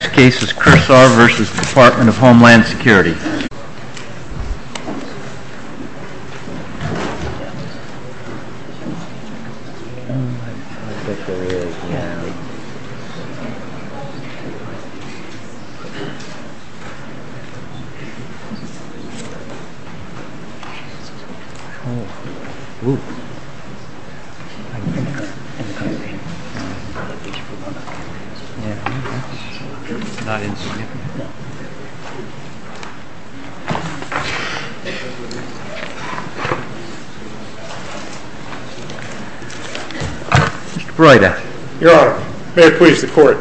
This case is Kursar v. Department of Homeland Security Your Honour, may it please the Court.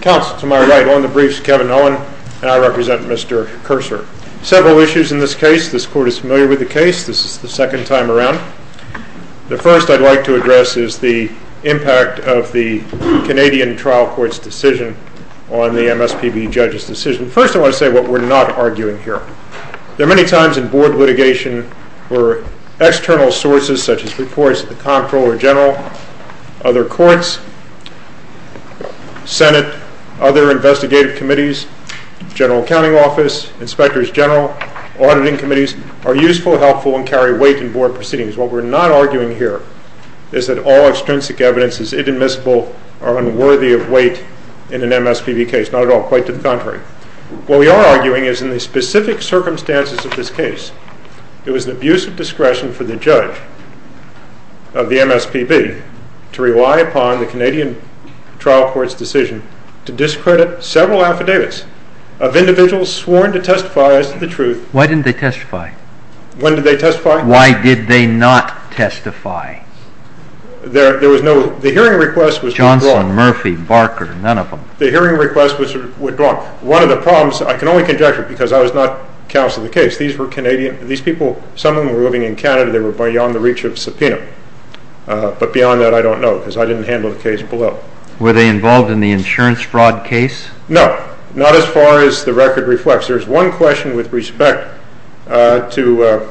Counsel to my right on the briefs is Kevin Owen and I represent Mr. Kursar. Several issues in this case. This Court is familiar with the case. This is the second time around. The first I'd like to address is the impact of the Canadian trial court's decision on the MSPB judge's decision. First I want to say what we're not arguing here. There are many times in board litigation where external sources such as reports of the Comptroller General, other courts, Senate, other investigative committees, General Accounting Office, Inspectors General, auditing committees are useful, helpful and carry weight in board proceedings. What we're not arguing here is that all extrinsic evidence is inadmissible or unworthy of weight in an MSPB case. Not at all, quite to the contrary. What we are arguing is in the specific circumstances of this case, it was an abuse of discretion for the judge of the MSPB to rely upon the Canadian trial court's decision to discredit several affidavits of individuals sworn to testify as to the truth. Why didn't they? So the hearing request was withdrawn. Johnson, Murphy, Barker, none of them. The hearing request was withdrawn. One of the problems, I can only conjecture because I was not counsel of the case, these people, some of them were living in Canada, they were beyond the reach of subpoena, but beyond that I don't know because I didn't handle the case below. Were they involved in the insurance fraud case? No, not as far as the record reflects. There's one question with respect to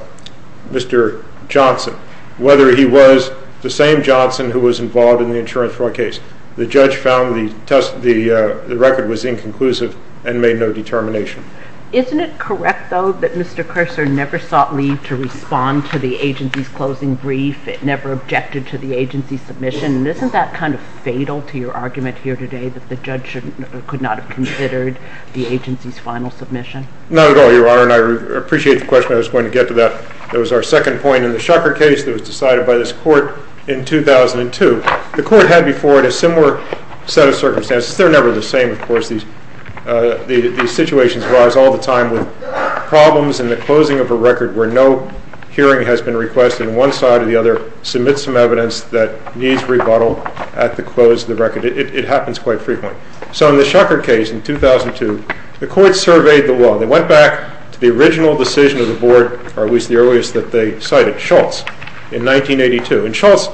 Mr. Johnson, whether he was the same Johnson who was involved in the insurance fraud case. The judge found the record was inconclusive and made no determination. Isn't it correct though that Mr. Cursor never sought leave to respond to the agency's closing brief? It never objected to the agency's submission. Isn't that kind of fatal to your argument here today that the judge could not have considered the agency's final submission? Not at all, Your Honor, and I appreciate the question. I was going to get to that. There was a case that was decided by this court in 2002. The court had before it a similar set of circumstances. They're never the same, of course. These situations arise all the time with problems in the closing of a record where no hearing has been requested and one side or the other submits some evidence that needs rebuttal at the close of the record. It happens quite frequently. So in the Shucker case in 2002, the court surveyed the law. They went back to the original decision of the board, or at least the earliest that they cited, Shultz, in 1982. And Shultz,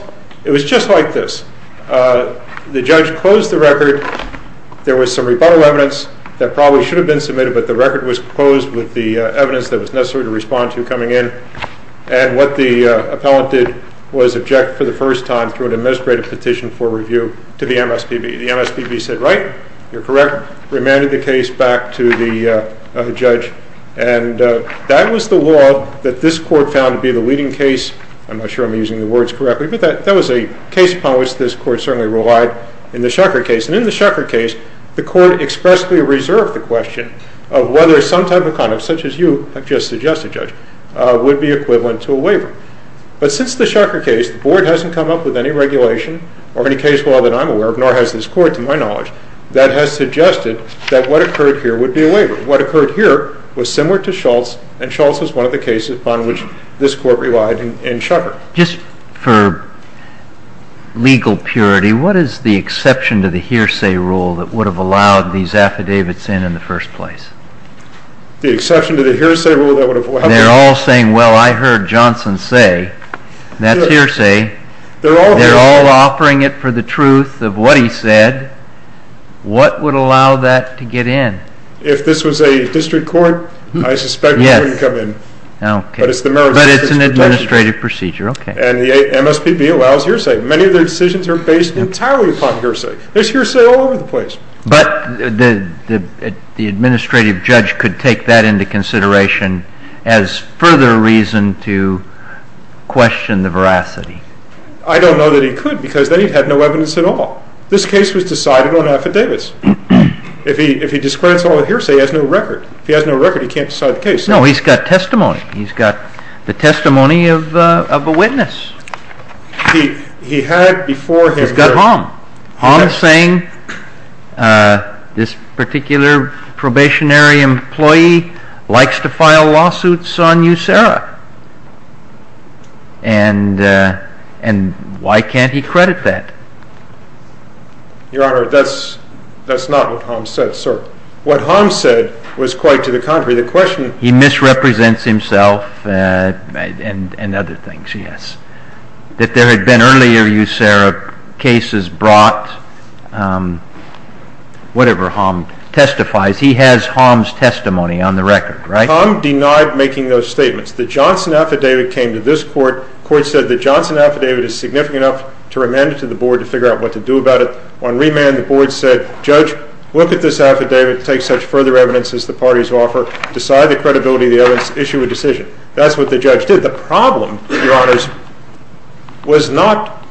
it was just like this. The judge closed the record. There was some rebuttal evidence that probably should have been submitted, but the record was closed with the evidence that was necessary to respond to coming in. And what the appellant did was object for the first time through an administrative petition for review to the MSPB. The MSPB said, right, you're correct, remanded the case back to the judge. And that was the law that this court found to be the leading case. I'm not sure I'm using the words correctly, but that was a case upon which this court certainly relied in the Shucker case. And in the Shucker case, the court expressly reserved the question of whether some type of conduct, such as you have just suggested, Judge, would be equivalent to a waiver. But since the Shucker case, the board hasn't come up with any regulation or any case law that I'm aware of, nor has this court, to my knowledge, that has suggested that what occurred here would be a waiver. What occurred here was similar to Shultz, and Shultz was one of the cases upon which this court relied in Shucker. JUSTICE KENNEDY Just for legal purity, what is the exception to the hearsay rule that would have allowed these affidavits in in the first place? MR. EBERSTADT The exception to the hearsay rule that would have allowed? JUSTICE KENNEDY They're all saying, well, I heard Johnson say, that's hearsay. They're all offering it for the truth of what he said. What would allow that to get in? MR. EBERSTADT If this was a district court, I suspect it wouldn't come in. JUSTICE KENNEDY Yes. Okay. MR. EBERSTADT But it's the Merrill District's protection. JUSTICE KENNEDY But it's an administrative procedure. Okay. MR. EBERSTADT And the MSPB allows hearsay. Many of their decisions are based entirely upon hearsay. There's hearsay all over the place. JUSTICE KENNEDY But the administrative judge could take that into consideration as further reason to question the veracity. MR. EBERSTADT I don't know that he could, because then he'd have no evidence at all. This case was decided on affidavits. If he discredits all hearsay, he has no record. If he has no record, he can't decide the case. JUSTICE KENNEDY No, he's got testimony. He's got the testimony of a witness. MR. EBERSTADT He had before him JUSTICE KENNEDY He's got Hom. Hom saying, this particular probationary employee likes to file lawsuits on you, Sarah. And why can't he credit that? MR. EBERSTADT Your Honor, that's not what Hom said, sir. What Hom said was quite to the contrary. The question JUSTICE KENNEDY He misrepresents himself and other things, that there had been earlier cases brought, whatever Hom testifies. He has Hom's testimony on the record, right? MR. EBERSTADT Hom denied making those statements. The Johnson affidavit came to this Court. The Court said the Johnson affidavit is significant enough to remand it to the Board to figure out what to do about it. On remand, the Board said, Judge, look at this affidavit. Take such further evidence as the parties offer. Decide the credibility of the evidence. Issue a decision. That's what the judge did. The problem, Your Honor, was not JUSTICE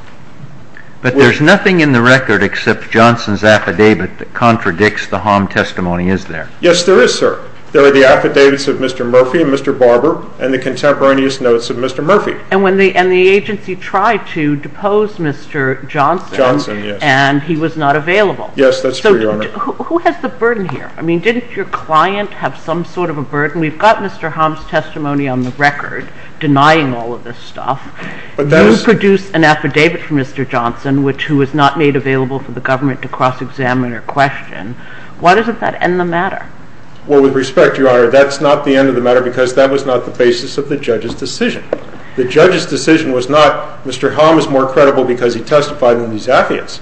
KENNEDY But there's nothing in the record except Johnson's affidavit that contradicts the Hom testimony, is there? MR. EBERSTADT Yes, there is, sir. There are the affidavits of Mr. Murphy and Mr. Barber and the contemporaneous notes of Mr. Murphy. JUSTICE KENNEDY And the agency tried to depose Mr. Johnson, and he was not available. MR. EBERSTADT Yes, that's true, Your Honor. JUSTICE KENNEDY So who has the burden here? I mean, didn't your client have some sort of a burden? We've got Mr. Hom's testimony on the record. You're denying all of this stuff. You produced an affidavit for Mr. Johnson, who was not made available for the government to cross-examine or question. Why doesn't that end the matter? MR. EBERSTADT Well, with respect, Your Honor, that's not the end of the matter because that was not the basis of the judge's decision. The judge's decision was not Mr. Hom is more credible because he testified in these affidavits.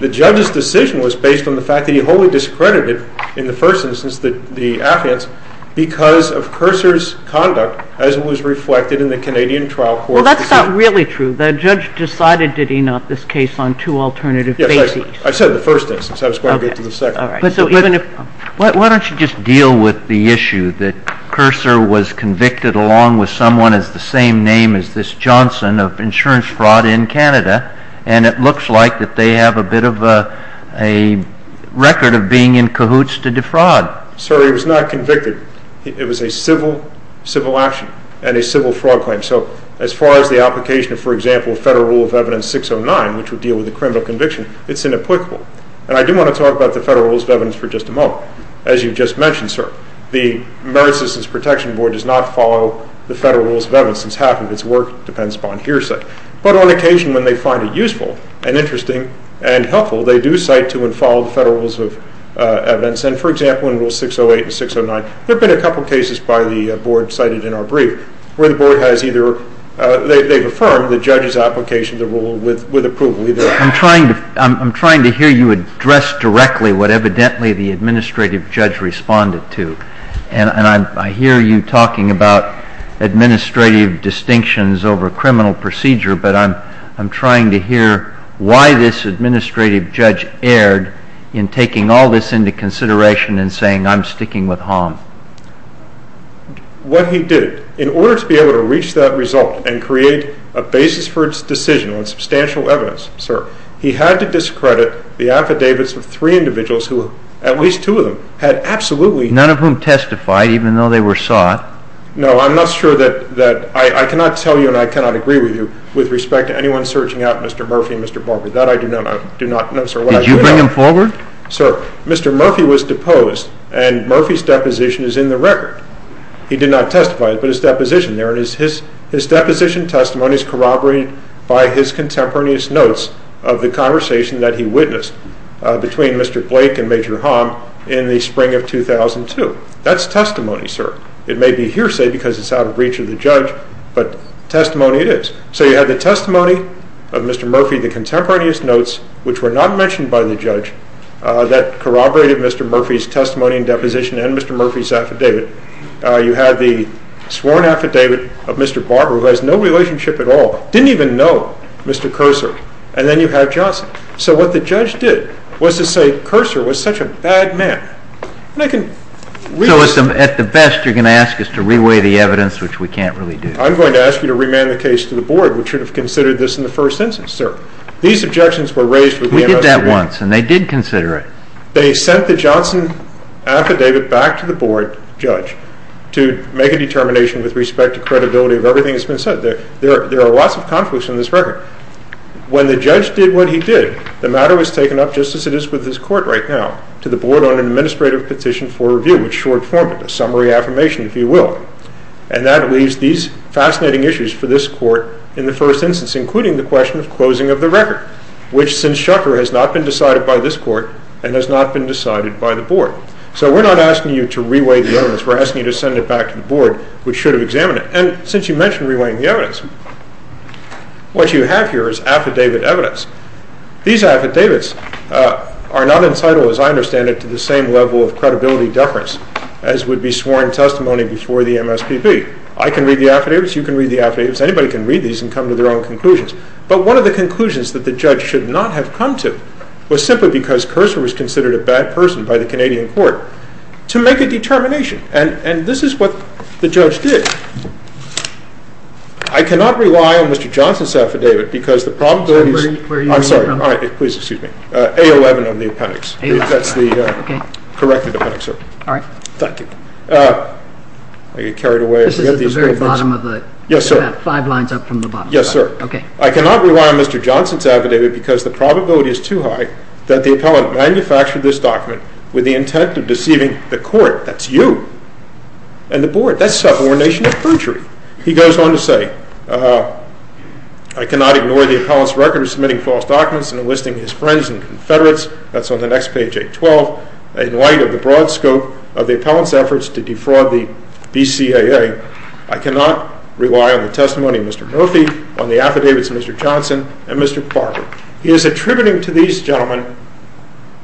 The judge's decision was based on the fact that he wholly discredited, in the first instance, the affidavits because of Curser's conduct as was reflected in the Canadian trial court proceeding. JUSTICE KENNEDY Well, that's not really true. The judge decided did he not, this case, on two alternative bases. MR. EBERSTADT Yes, I said the first instance. I was going to get to the second. JUSTICE KENNEDY All right. But so even if MR. EBERSTADT Why don't you just deal with the issue that Curser was convicted along with someone with the same name as this Johnson of insurance fraud in Canada, and it looks like that they have a bit of a record of being in cahoots to defraud. MR. EBERSTADT Sir, he was not convicted. It was a civil action and a civil fraud claim. So as far as the application of, for example, Federal Rule of Evidence 609, which would deal with a criminal conviction, it's inapplicable. And I do want to talk about the Federal Rules of Evidence for just a moment. As you just mentioned, sir, the Merit Systems Protection Board does not follow the Federal Rules of Evidence since half of its work depends upon hearsay. But on occasion when they find it and, for example, in Rule 608 and 609, there have been a couple of cases by the Board cited in our brief where the Board has either, they've affirmed the judge's application of the rule JUSTICE KENNEDY I'm trying to hear you address directly what evidently the administrative judge responded to. And I hear you talking about administrative distinctions over criminal procedure, but I'm trying to hear why this administrative judge erred in taking all this into consideration and saying, I'm sticking with Hom. MR. EBERSTADT What he did, in order to be able to reach that result and create a basis for its decision on substantial evidence, sir, he had to discredit the affidavits of three individuals who, at least two of them, had absolutely JUSTICE KENNEDY None of whom testified, even though they were sought. MR. EBERSTADT No, I'm not sure that, I cannot tell you and I cannot agree with you with respect to anyone searching out Mr. Murphy and Mr. Barber. That I do not know, sir, what I do know. JUSTICE KENNEDY Did you bring them forward? MR. EBERSTADT Sir, Mr. Murphy was deposed and Murphy's deposition is in the record. He did not testify, but his deposition there, his deposition testimony is corroborated by his contemporaneous notes of the conversation that he witnessed between Mr. Blake and Major Hom in the spring of 2002. That's testimony, sir. It may be hearsay because it's out of reach of the judge, but testimony it is. So you have the testimony of Mr. Murphy, the contemporaneous notes, which were not mentioned by the judge, that corroborated Mr. Murphy's testimony and deposition and Mr. Murphy's affidavit. You have the sworn affidavit of Mr. Barber, who has no relationship at all, didn't even know Mr. Cursor, and then you have Johnson. So what the judge did was to say Cursor was such a bad man. CHIEF JUSTICE KENNEDY So at the best you're going to ask us to re-weigh the evidence, which we can't really do. MR. EBERSTADT I'm going to ask you to remand the case to the Board, which should have considered this in the first instance, sir. These objections CHIEF JUSTICE KENNEDY We did that once and they did consider it. MR. EBERSTADT They sent the Johnson affidavit back to the Board judge to make a determination with respect to credibility of everything that's been said. There are lots of conflicts in this record. When the judge did what he did, the matter was taken up, just as it is with this Court right now, to the Board on an Administrative Petition for Review, which is short form, a summary affirmation, if you will. And that leaves these fascinating issues for this Court in the first instance, including the question of closing of the record, which, since Shucker, has not been decided by this Court and has not been decided by the Board. So we're not asking you to re-weigh the evidence. We're asking you to send it back to the Board, which should have examined it. And since you mentioned re-weighing the evidence, what you have here is affidavit evidence. These affidavits are not incitable, as I understand it, to the same level of credibility deference as would be sworn testimony before the MSPB. I can read the affidavits. You can read the affidavits. Anybody can read these and come to their own conclusions. But one of the conclusions that the judge should not have come to was simply because Curser was considered a bad person by the Canadian Court to make a determination. And this is what the judge did. I cannot rely on Mr. Johnson's affidavit because the probability is too high that the appellant manufactured this document with the intent of deceiving the Court, that's you, and the Board. That's subordination of perjury. He goes on to say, I cannot ignore the appellant's record of submitting false documents and enlisting his friends and confederates, that's on the next page, 812, in light of the broad scope of the appellant's efforts to defraud the BCAA. I cannot rely on the testimony of Mr. Murphy, on the affidavits of Mr. Johnson, and Mr. Johnson,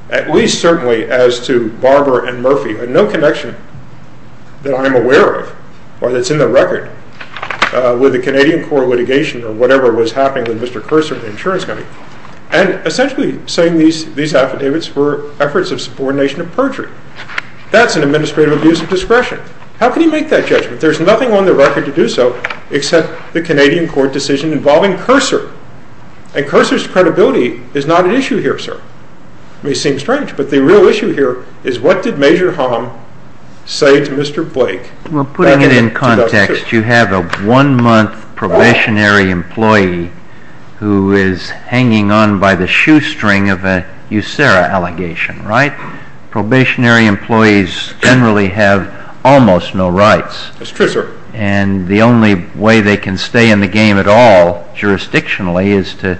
at least certainly as to Barber and Murphy, have no connection that I am aware of, or that's in the record, with the Canadian Court of litigation or whatever was happening with Mr. Curser at the insurance company. And essentially saying these affidavits were efforts of subordination of perjury. That's an administrative abuse of discretion. How can you make that judgment? There's nothing on the record to do so except the Canadian Court decision involving Curser. And Curser's credibility is not an issue here, sir. It seems strange. But the real issue here is what did Major Hom say to Mr. Blake back in 2002? Well, putting it in context, you have a one-month probationary employee who is hanging on by the shoestring of a USERRA allegation, right? Probationary employees generally have almost no rights. That's true, sir. And the only way they can stay in the game at all, jurisdictionally, is to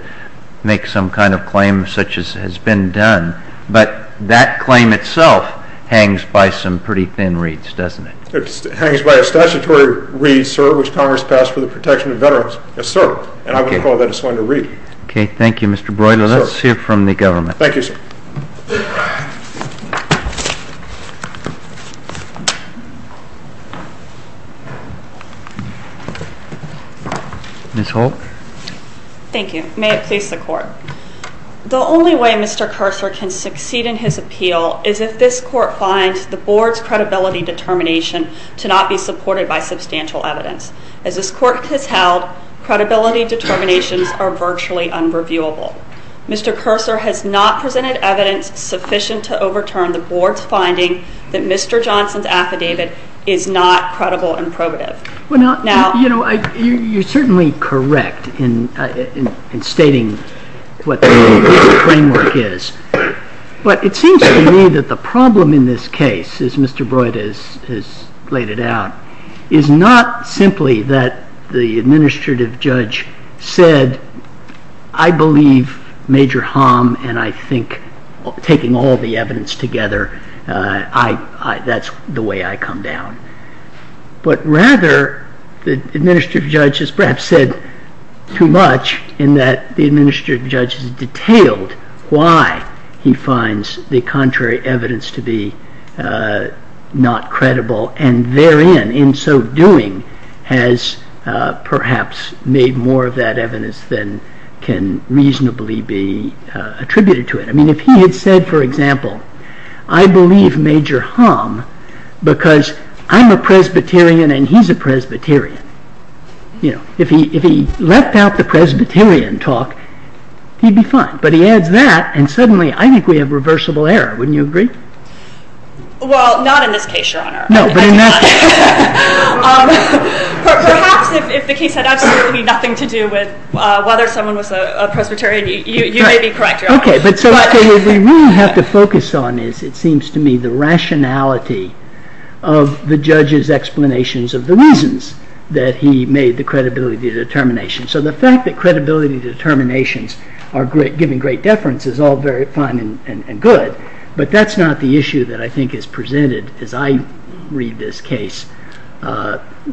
make some kind of claim such as has been done. But that claim itself hangs by some pretty thin reeds, doesn't it? It hangs by a statutory reed, sir, which Congress passed for the protection of veterans. Yes, sir. And I would call that a slender reed. Okay. Thank you, Mr. Broyden. Let's hear from the government. Thank you, sir. Ms. Holt? Thank you. May it please the court. The only way Mr. Curser can succeed in his appeal is if this court finds the board's credibility determination to not be supported by substantial evidence. As this court has held, credibility determinations are virtually unreviewable. Mr. Curser has not presented evidence sufficient to overturn the board's finding that Mr. Johnson's Well, now, you know, you're certainly correct in stating what the framework is. But it seems to me that the problem in this case, as Mr. Broyden has laid it out, is not simply that the administrative judge said, I believe Major Hom and I think taking all the evidence together, that's the way I come down. But rather, the administrative judge has perhaps said too much in that the administrative judge has detailed why he finds the contrary evidence to be not credible. And therein, in so doing, has perhaps made more of that evidence than can reasonably be attributed to it. I mean, if he had said, for example, I believe Major Hom because I'm a Presbyterian and he's a Presbyterian, you know, if he left out the Presbyterian talk, he'd be fine. But he adds that, and suddenly, I think we have reversible error. Wouldn't you agree? Well, not in this case, Your Honor. No, but in that case. Perhaps if the case had absolutely nothing to do with whether someone was a Presbyterian, you may be correct, Your Honor. Okay, but so what we really have to focus on is, it seems to me, the rationality of the judge's explanations of the reasons that he made the credibility determination. So the fact that credibility determinations are giving great deference is all very fine and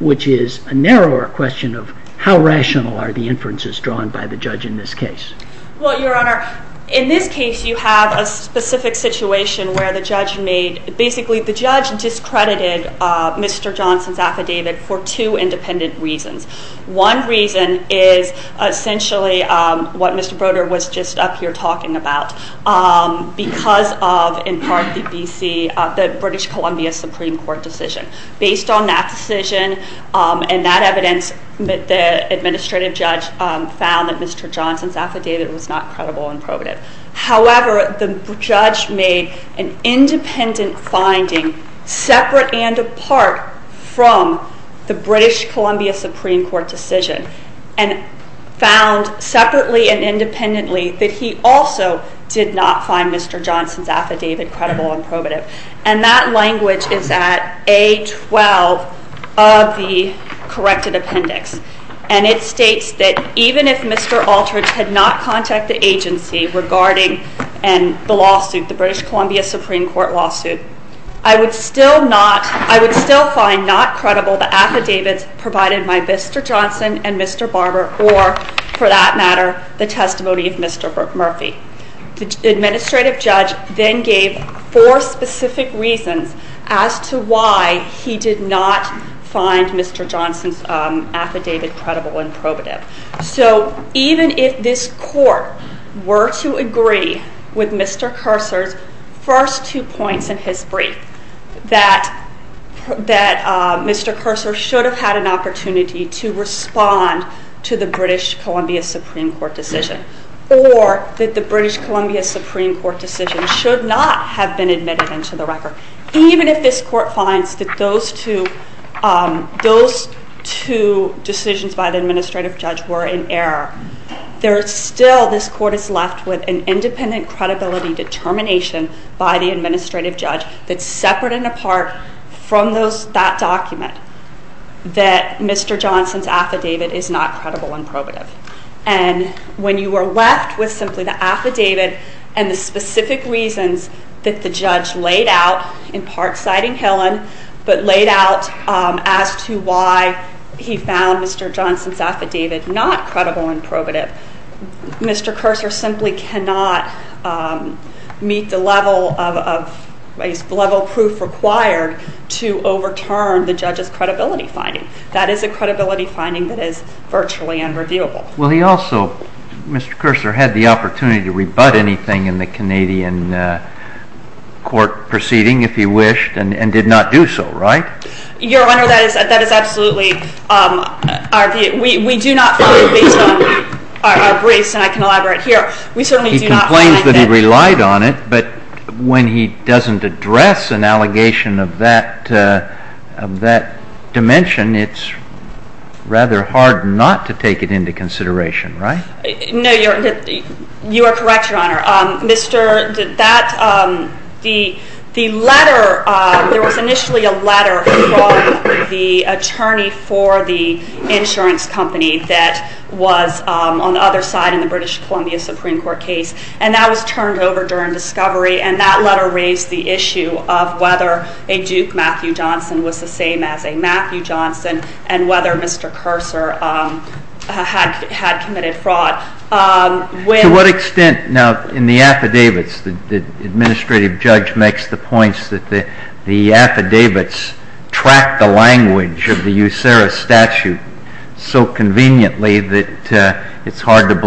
which is a narrower question of how rational are the inferences drawn by the judge in this case. Well, Your Honor, in this case, you have a specific situation where the judge made, basically, the judge discredited Mr. Johnson's affidavit for two independent reasons. One reason is essentially what Mr. Broder was just up here talking about, because of, in part, the British Columbia Supreme Court decision. Based on that decision and that evidence, the administrative judge found that Mr. Johnson's affidavit was not credible and probative. However, the judge made an independent finding, separate and apart from the British Columbia Supreme Court decision, and found separately and independently that he also did not find Mr. Johnson's affidavit credible and probative. And that language is at A12 of the corrected appendix. And it states that even if Mr. Alterich had not contacted the agency regarding the lawsuit, the British Columbia Supreme Court lawsuit, I would still find not credible the affidavits provided by Mr. Johnson and Mr. Barber or, for that matter, the testimony of Mr. Murphy. The administrative judge then gave four specific reasons as to why he did not find Mr. Johnson's affidavit credible and probative. So even if this court were to agree with Mr. Cursor's first two points in his brief, that Mr. Cursor should have had an opportunity to respond to the British Columbia Supreme Court decision, or that the British Columbia Supreme Court decision should not have been admitted into the record, even if this court finds that those two decisions by the administrative judge were in error, there's still, this court is left with an independent credibility determination by the administrative judge that's separate and apart from that document that Mr. Johnson's affidavit is not credible and probative. And when you are left with simply the affidavit and the specific reasons that the judge laid out, in part citing Hillen, but laid out as to why he found Mr. Johnson's affidavit not to be credible and probative, that is a credibility finding that is virtually unreviewable. Well, he also, Mr. Cursor, had the opportunity to rebut anything in the Canadian court proceeding, if he wished, and did not do so, right? Your Honor, that is absolutely our view. We do not find, based on our briefs, and I can elaborate here, we certainly do not find that... of that dimension, it's rather hard not to take it into consideration, right? No, you are correct, Your Honor. Mr., that, the letter, there was initially a letter from the attorney for the insurance company that was on the other side in the British Columbia Supreme Court case, and that was turned over during discovery, and that letter raised the question of whether a Duke Matthew Johnson was the same as a Matthew Johnson, and whether Mr. Cursor had committed fraud. To what extent, now, in the affidavits, the administrative judge makes the points that the affidavits track the language of the USERA statute so conveniently that it's hard to get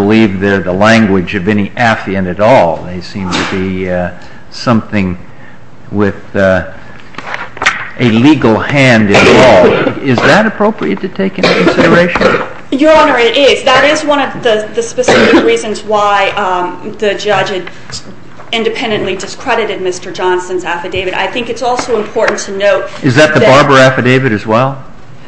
a legal hand involved. Is that appropriate to take into consideration? Your Honor, it is. That is one of the specific reasons why the judge independently discredited Mr. Johnson's affidavit. I think it's also important to note... Is that the Barber affidavit as well?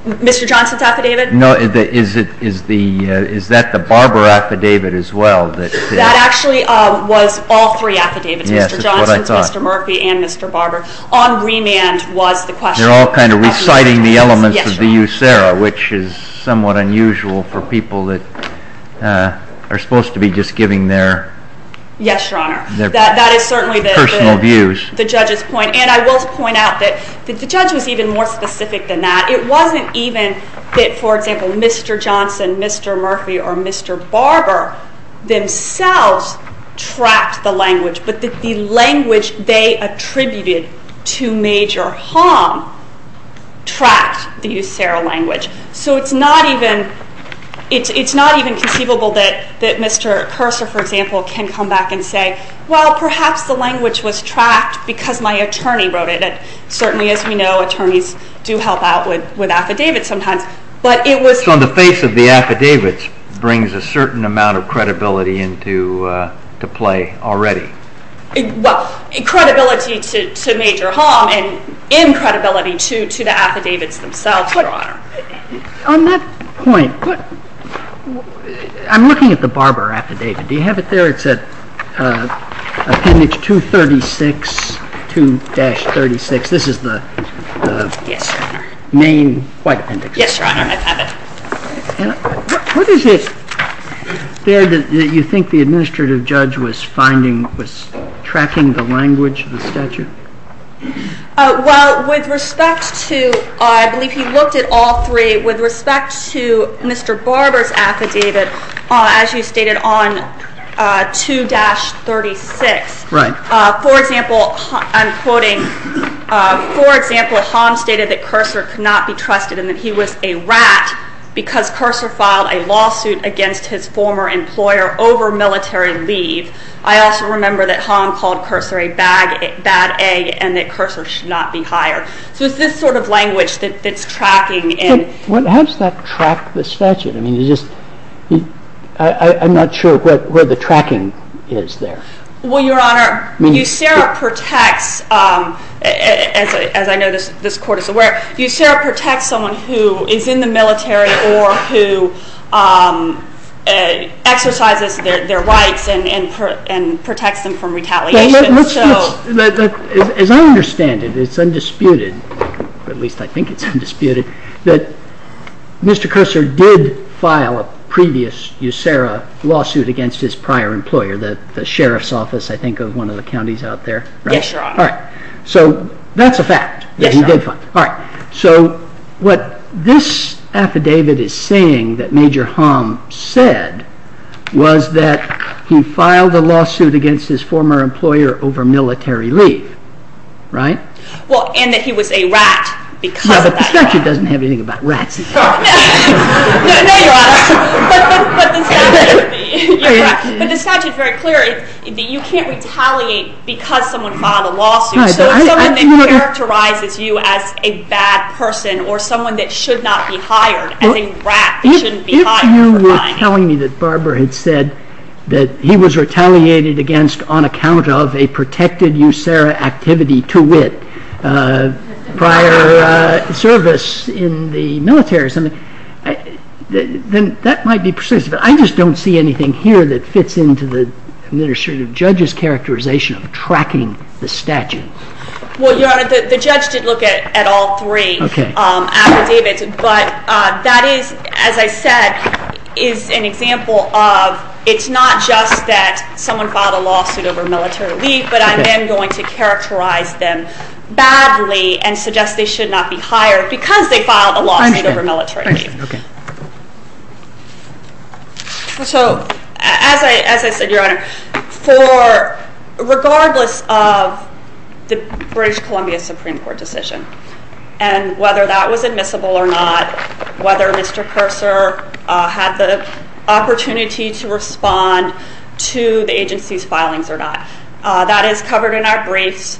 Mr. Johnson's affidavit? No, is it, is the, is that the Barber affidavit as well? That actually was all three affidavits. Yes, that's what I thought. Mr. Johnson's, Mr. Murphy, and Mr. Barber. On remand was the question. They're all kind of reciting the elements of the USERA, which is somewhat unusual for people that are supposed to be just giving their... Yes, Your Honor. ...their personal views. That is certainly the judge's point, and I will point out that the judge was even more specific than that. It wasn't even that, for example, Mr. Johnson, Mr. Murphy, or Mr. Barber themselves trapped the language, but that the language they attributed to major harm trapped the USERA language. So it's not even conceivable that Mr. Cursor, for example, can come back and say, well, perhaps the language was trapped because my attorney wrote it. Certainly, as we know, attorneys do help out with affidavits sometimes, but it was... So just on the face of the affidavits brings a certain amount of credibility into play already. Well, credibility to major harm and in credibility to the affidavits themselves, Your Honor. On that point, I'm looking at the Barber affidavit. Do you have it there? It's at appendix 236, 2-36. This is the main white appendix. Yes, Your Honor, I have it. What is it there that you think the administrative judge was tracking the language of the statute? Well, with respect to... I believe he looked at all three. With respect to Mr. Barber's affidavit, as you stated, on 2-36... Right. For example, I'm quoting, for example, Hom stated that Cursor could not be trusted and that he was a rat because Cursor filed a lawsuit against his former employer over military leave. I also remember that Hom called Cursor a bad egg and that Cursor should not be hired. So it's this sort of language that's tracking. How does that track the statute? I mean, you just... I'm not sure where the tracking is there. Well, Your Honor, USERRA protects, as I know this Court is aware, USERRA protects someone who is in the military or who exercises their rights and protects them from retaliation. As I understand it, it's undisputed, at least I think it's undisputed, that Mr. Cursor did file a previous USERRA lawsuit against his prior employer, the Sheriff's Office, I think, of one of the counties out there. Yes, Your Honor. All right. So that's a fact. Yes, Your Honor. All right. So what this affidavit is saying that Major Hom said was that he filed a lawsuit against his former employer over military leave, right? Well, and that he was a rat because of that. Yeah, but the statute doesn't have anything about rats. No, Your Honor. But the statute is very clear that you can't retaliate because someone filed a lawsuit. So if someone characterizes you as a bad person or someone that should not be hired, as a rat, you shouldn't be hired for filing. If you were telling me that Barbara had said that he was retaliated against on account of a protected USERRA activity to wit prior service in the military or something, then that might be persuasive. I just don't see anything here that fits into the administrative judge's characterization of tracking the statute. Well, Your Honor, the judge did look at all three affidavits, but that is, as I said, is an example of it's not just that someone filed a lawsuit over military leave, but I'm then going to characterize them badly and suggest they should not be hired because they filed a lawsuit over military leave. So as I said, Your Honor, regardless of the British Columbia Supreme Court decision and whether that was admissible or not, whether Mr. Cursor had the opportunity to respond to the agency's filings or not, that is covered in our briefs.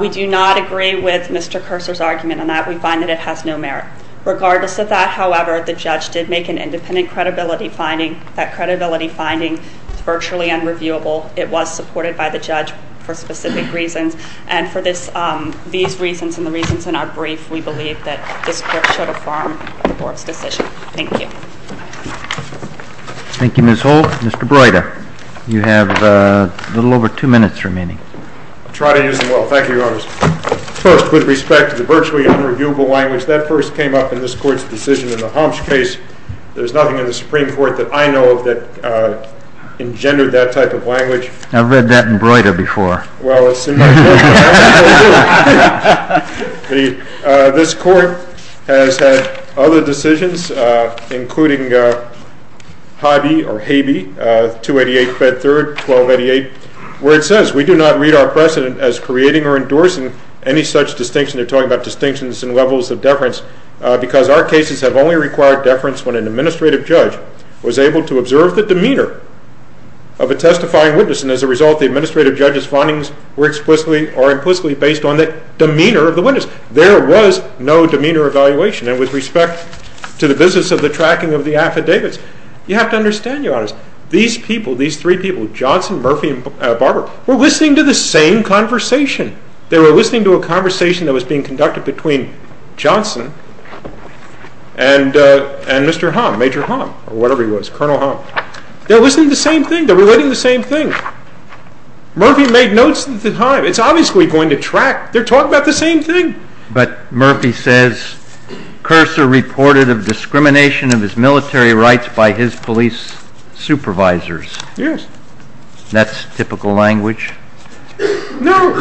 We do not agree with Mr. Cursor's argument on that. We find that it has no merit. Regardless of that, however, the judge did make an independent credibility finding. That credibility finding is virtually unreviewable. It was supported by the judge for specific reasons, and for these reasons and the reasons in our brief, we believe that this court should affirm the board's decision. Thank you. Thank you, Ms. Holt. Mr. Broida, you have a little over two minutes remaining. I'll try to use them well. Thank you, Your Honor. First, with respect to the virtually unreviewable language, that first came up in this court's decision in the Homs case. There's nothing in the Supreme Court that I know of that engendered that type of language. I've read that in Broida before. Well, it seems like you have. This court has had other decisions, including Haybee, 288 Bed 3rd, 1288, where it says, we do not read our precedent as creating or endorsing any such distinction. They're talking about distinctions and levels of deference, because our cases have only required deference when an administrative judge was able to observe the demeanor of a testifying witness, and as a result, the administrative judge's findings were explicitly or implicitly based on the demeanor of the witness. There was no demeanor evaluation, and with respect to the business of the tracking of the affidavits, you have to understand, Your Honors, these people, these three people, Johnson, Murphy, and Barber, were listening to the same conversation. They were listening to a conversation that was being conducted between Johnson and Mr. Hom, Major Hom, or whatever he was, Colonel Hom. They're listening to the same thing. They're relating the same thing. Murphy made notes at the time. It's obviously going to track. They're talking about the same thing. But Murphy says, Curser reported of discrimination of his military rights by his police supervisors. Yes. That's typical language? No.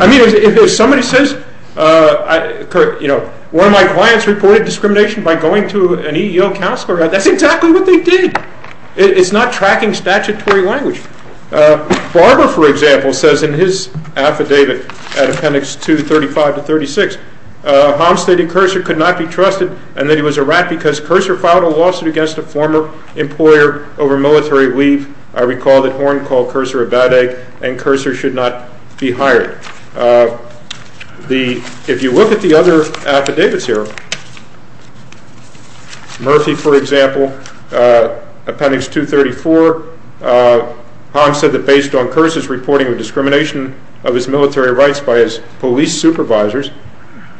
I mean, if somebody says, you know, one of my clients reported discrimination by going to an EEO counselor, that's exactly what they did. It's not tracking statutory language. Barber, for example, says in his affidavit at Appendix 235 to 36, Hom stated Curser could not be trusted and that he was a rat because Curser filed a lawsuit against a former employer over military leave. I recall that Horn called Curser a bad egg and Curser should not be hired. If you look at the other affidavits here, Murphy, for example, Appendix 234, Hom said that based on Curser's reporting of discrimination of his military rights by his police supervisors,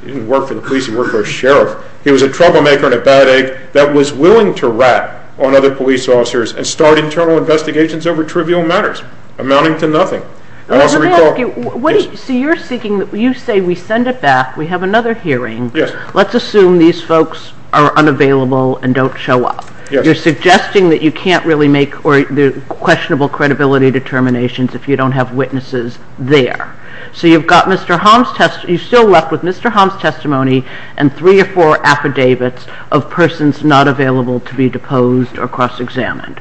he didn't work for the police, he worked for a sheriff, he was a troublemaker and a bad egg that was willing to rat on other police officers and start internal investigations over trivial matters amounting to nothing. So you're seeking, you say we send it back, we have another hearing, let's assume these folks are unavailable and don't show up. You're suggesting that you can't really make questionable credibility determinations if you don't have witnesses there. So you've got Mr. Hom's testimony, you're still left with Mr. Hom's testimony and three or four affidavits of persons not available to be deposed or cross-examined.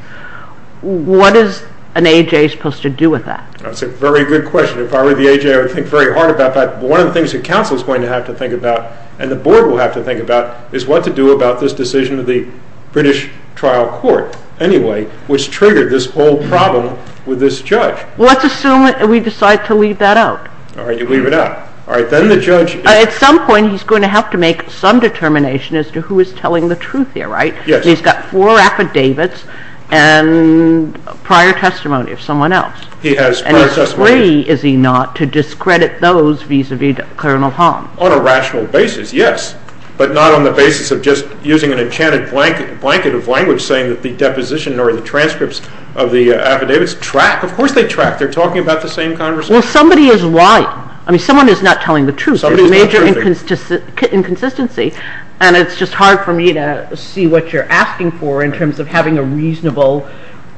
What is an AJ supposed to do with that? That's a very good question. If I were the AJ, I would think very hard about that. One of the things the council is going to have to think about and the board will have to think about is what to do about this decision of the British Trial Court anyway, which triggered this whole problem with this judge. Let's assume we decide to leave that out. All right, you leave it out. All right, then the judge… At some point he's going to have to make some determination as to who is telling the truth here, right? Yes. He's got four affidavits and prior testimony of someone else. He has prior testimony. And he's free, is he not, to discredit those vis-à-vis Colonel Hom? On a rational basis, yes, but not on the basis of just using an enchanted blanket of language saying that the deposition or the transcripts of the affidavits track. Of course they track. They're talking about the same conversation. Well, somebody is right. I mean, someone is not telling the truth. There's a major inconsistency. And it's just hard for me to see what you're asking for in terms of having a reasonable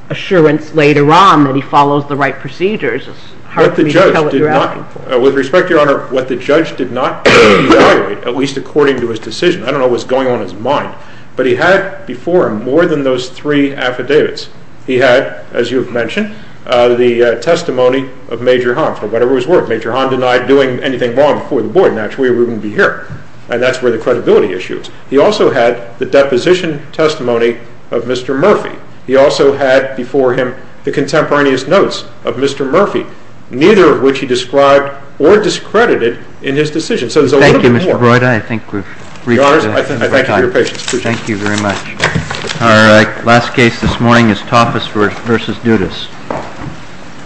assurance later on that he follows the right procedures. It's hard for me to tell what you're asking for. With respect, Your Honor, what the judge did not evaluate, at least according to his decision. I don't know what's going on in his mind. But he had before him more than those three affidavits. He had, as you have mentioned, the testimony of Major Hom, for whatever his worth. Major Hom denied doing anything wrong before the board, and naturally we wouldn't be here. And that's where the credibility issue is. He also had the deposition testimony of Mr. Murphy. He also had before him the contemporaneous notes of Mr. Murphy, neither of which he described or discredited in his decision. So there's a little bit more. Thank you, Mr. Broida. I think we've reached the time. Your Honor, I thank you for your patience. Thank you very much. Our last case this morning is Tafas v. Dudas.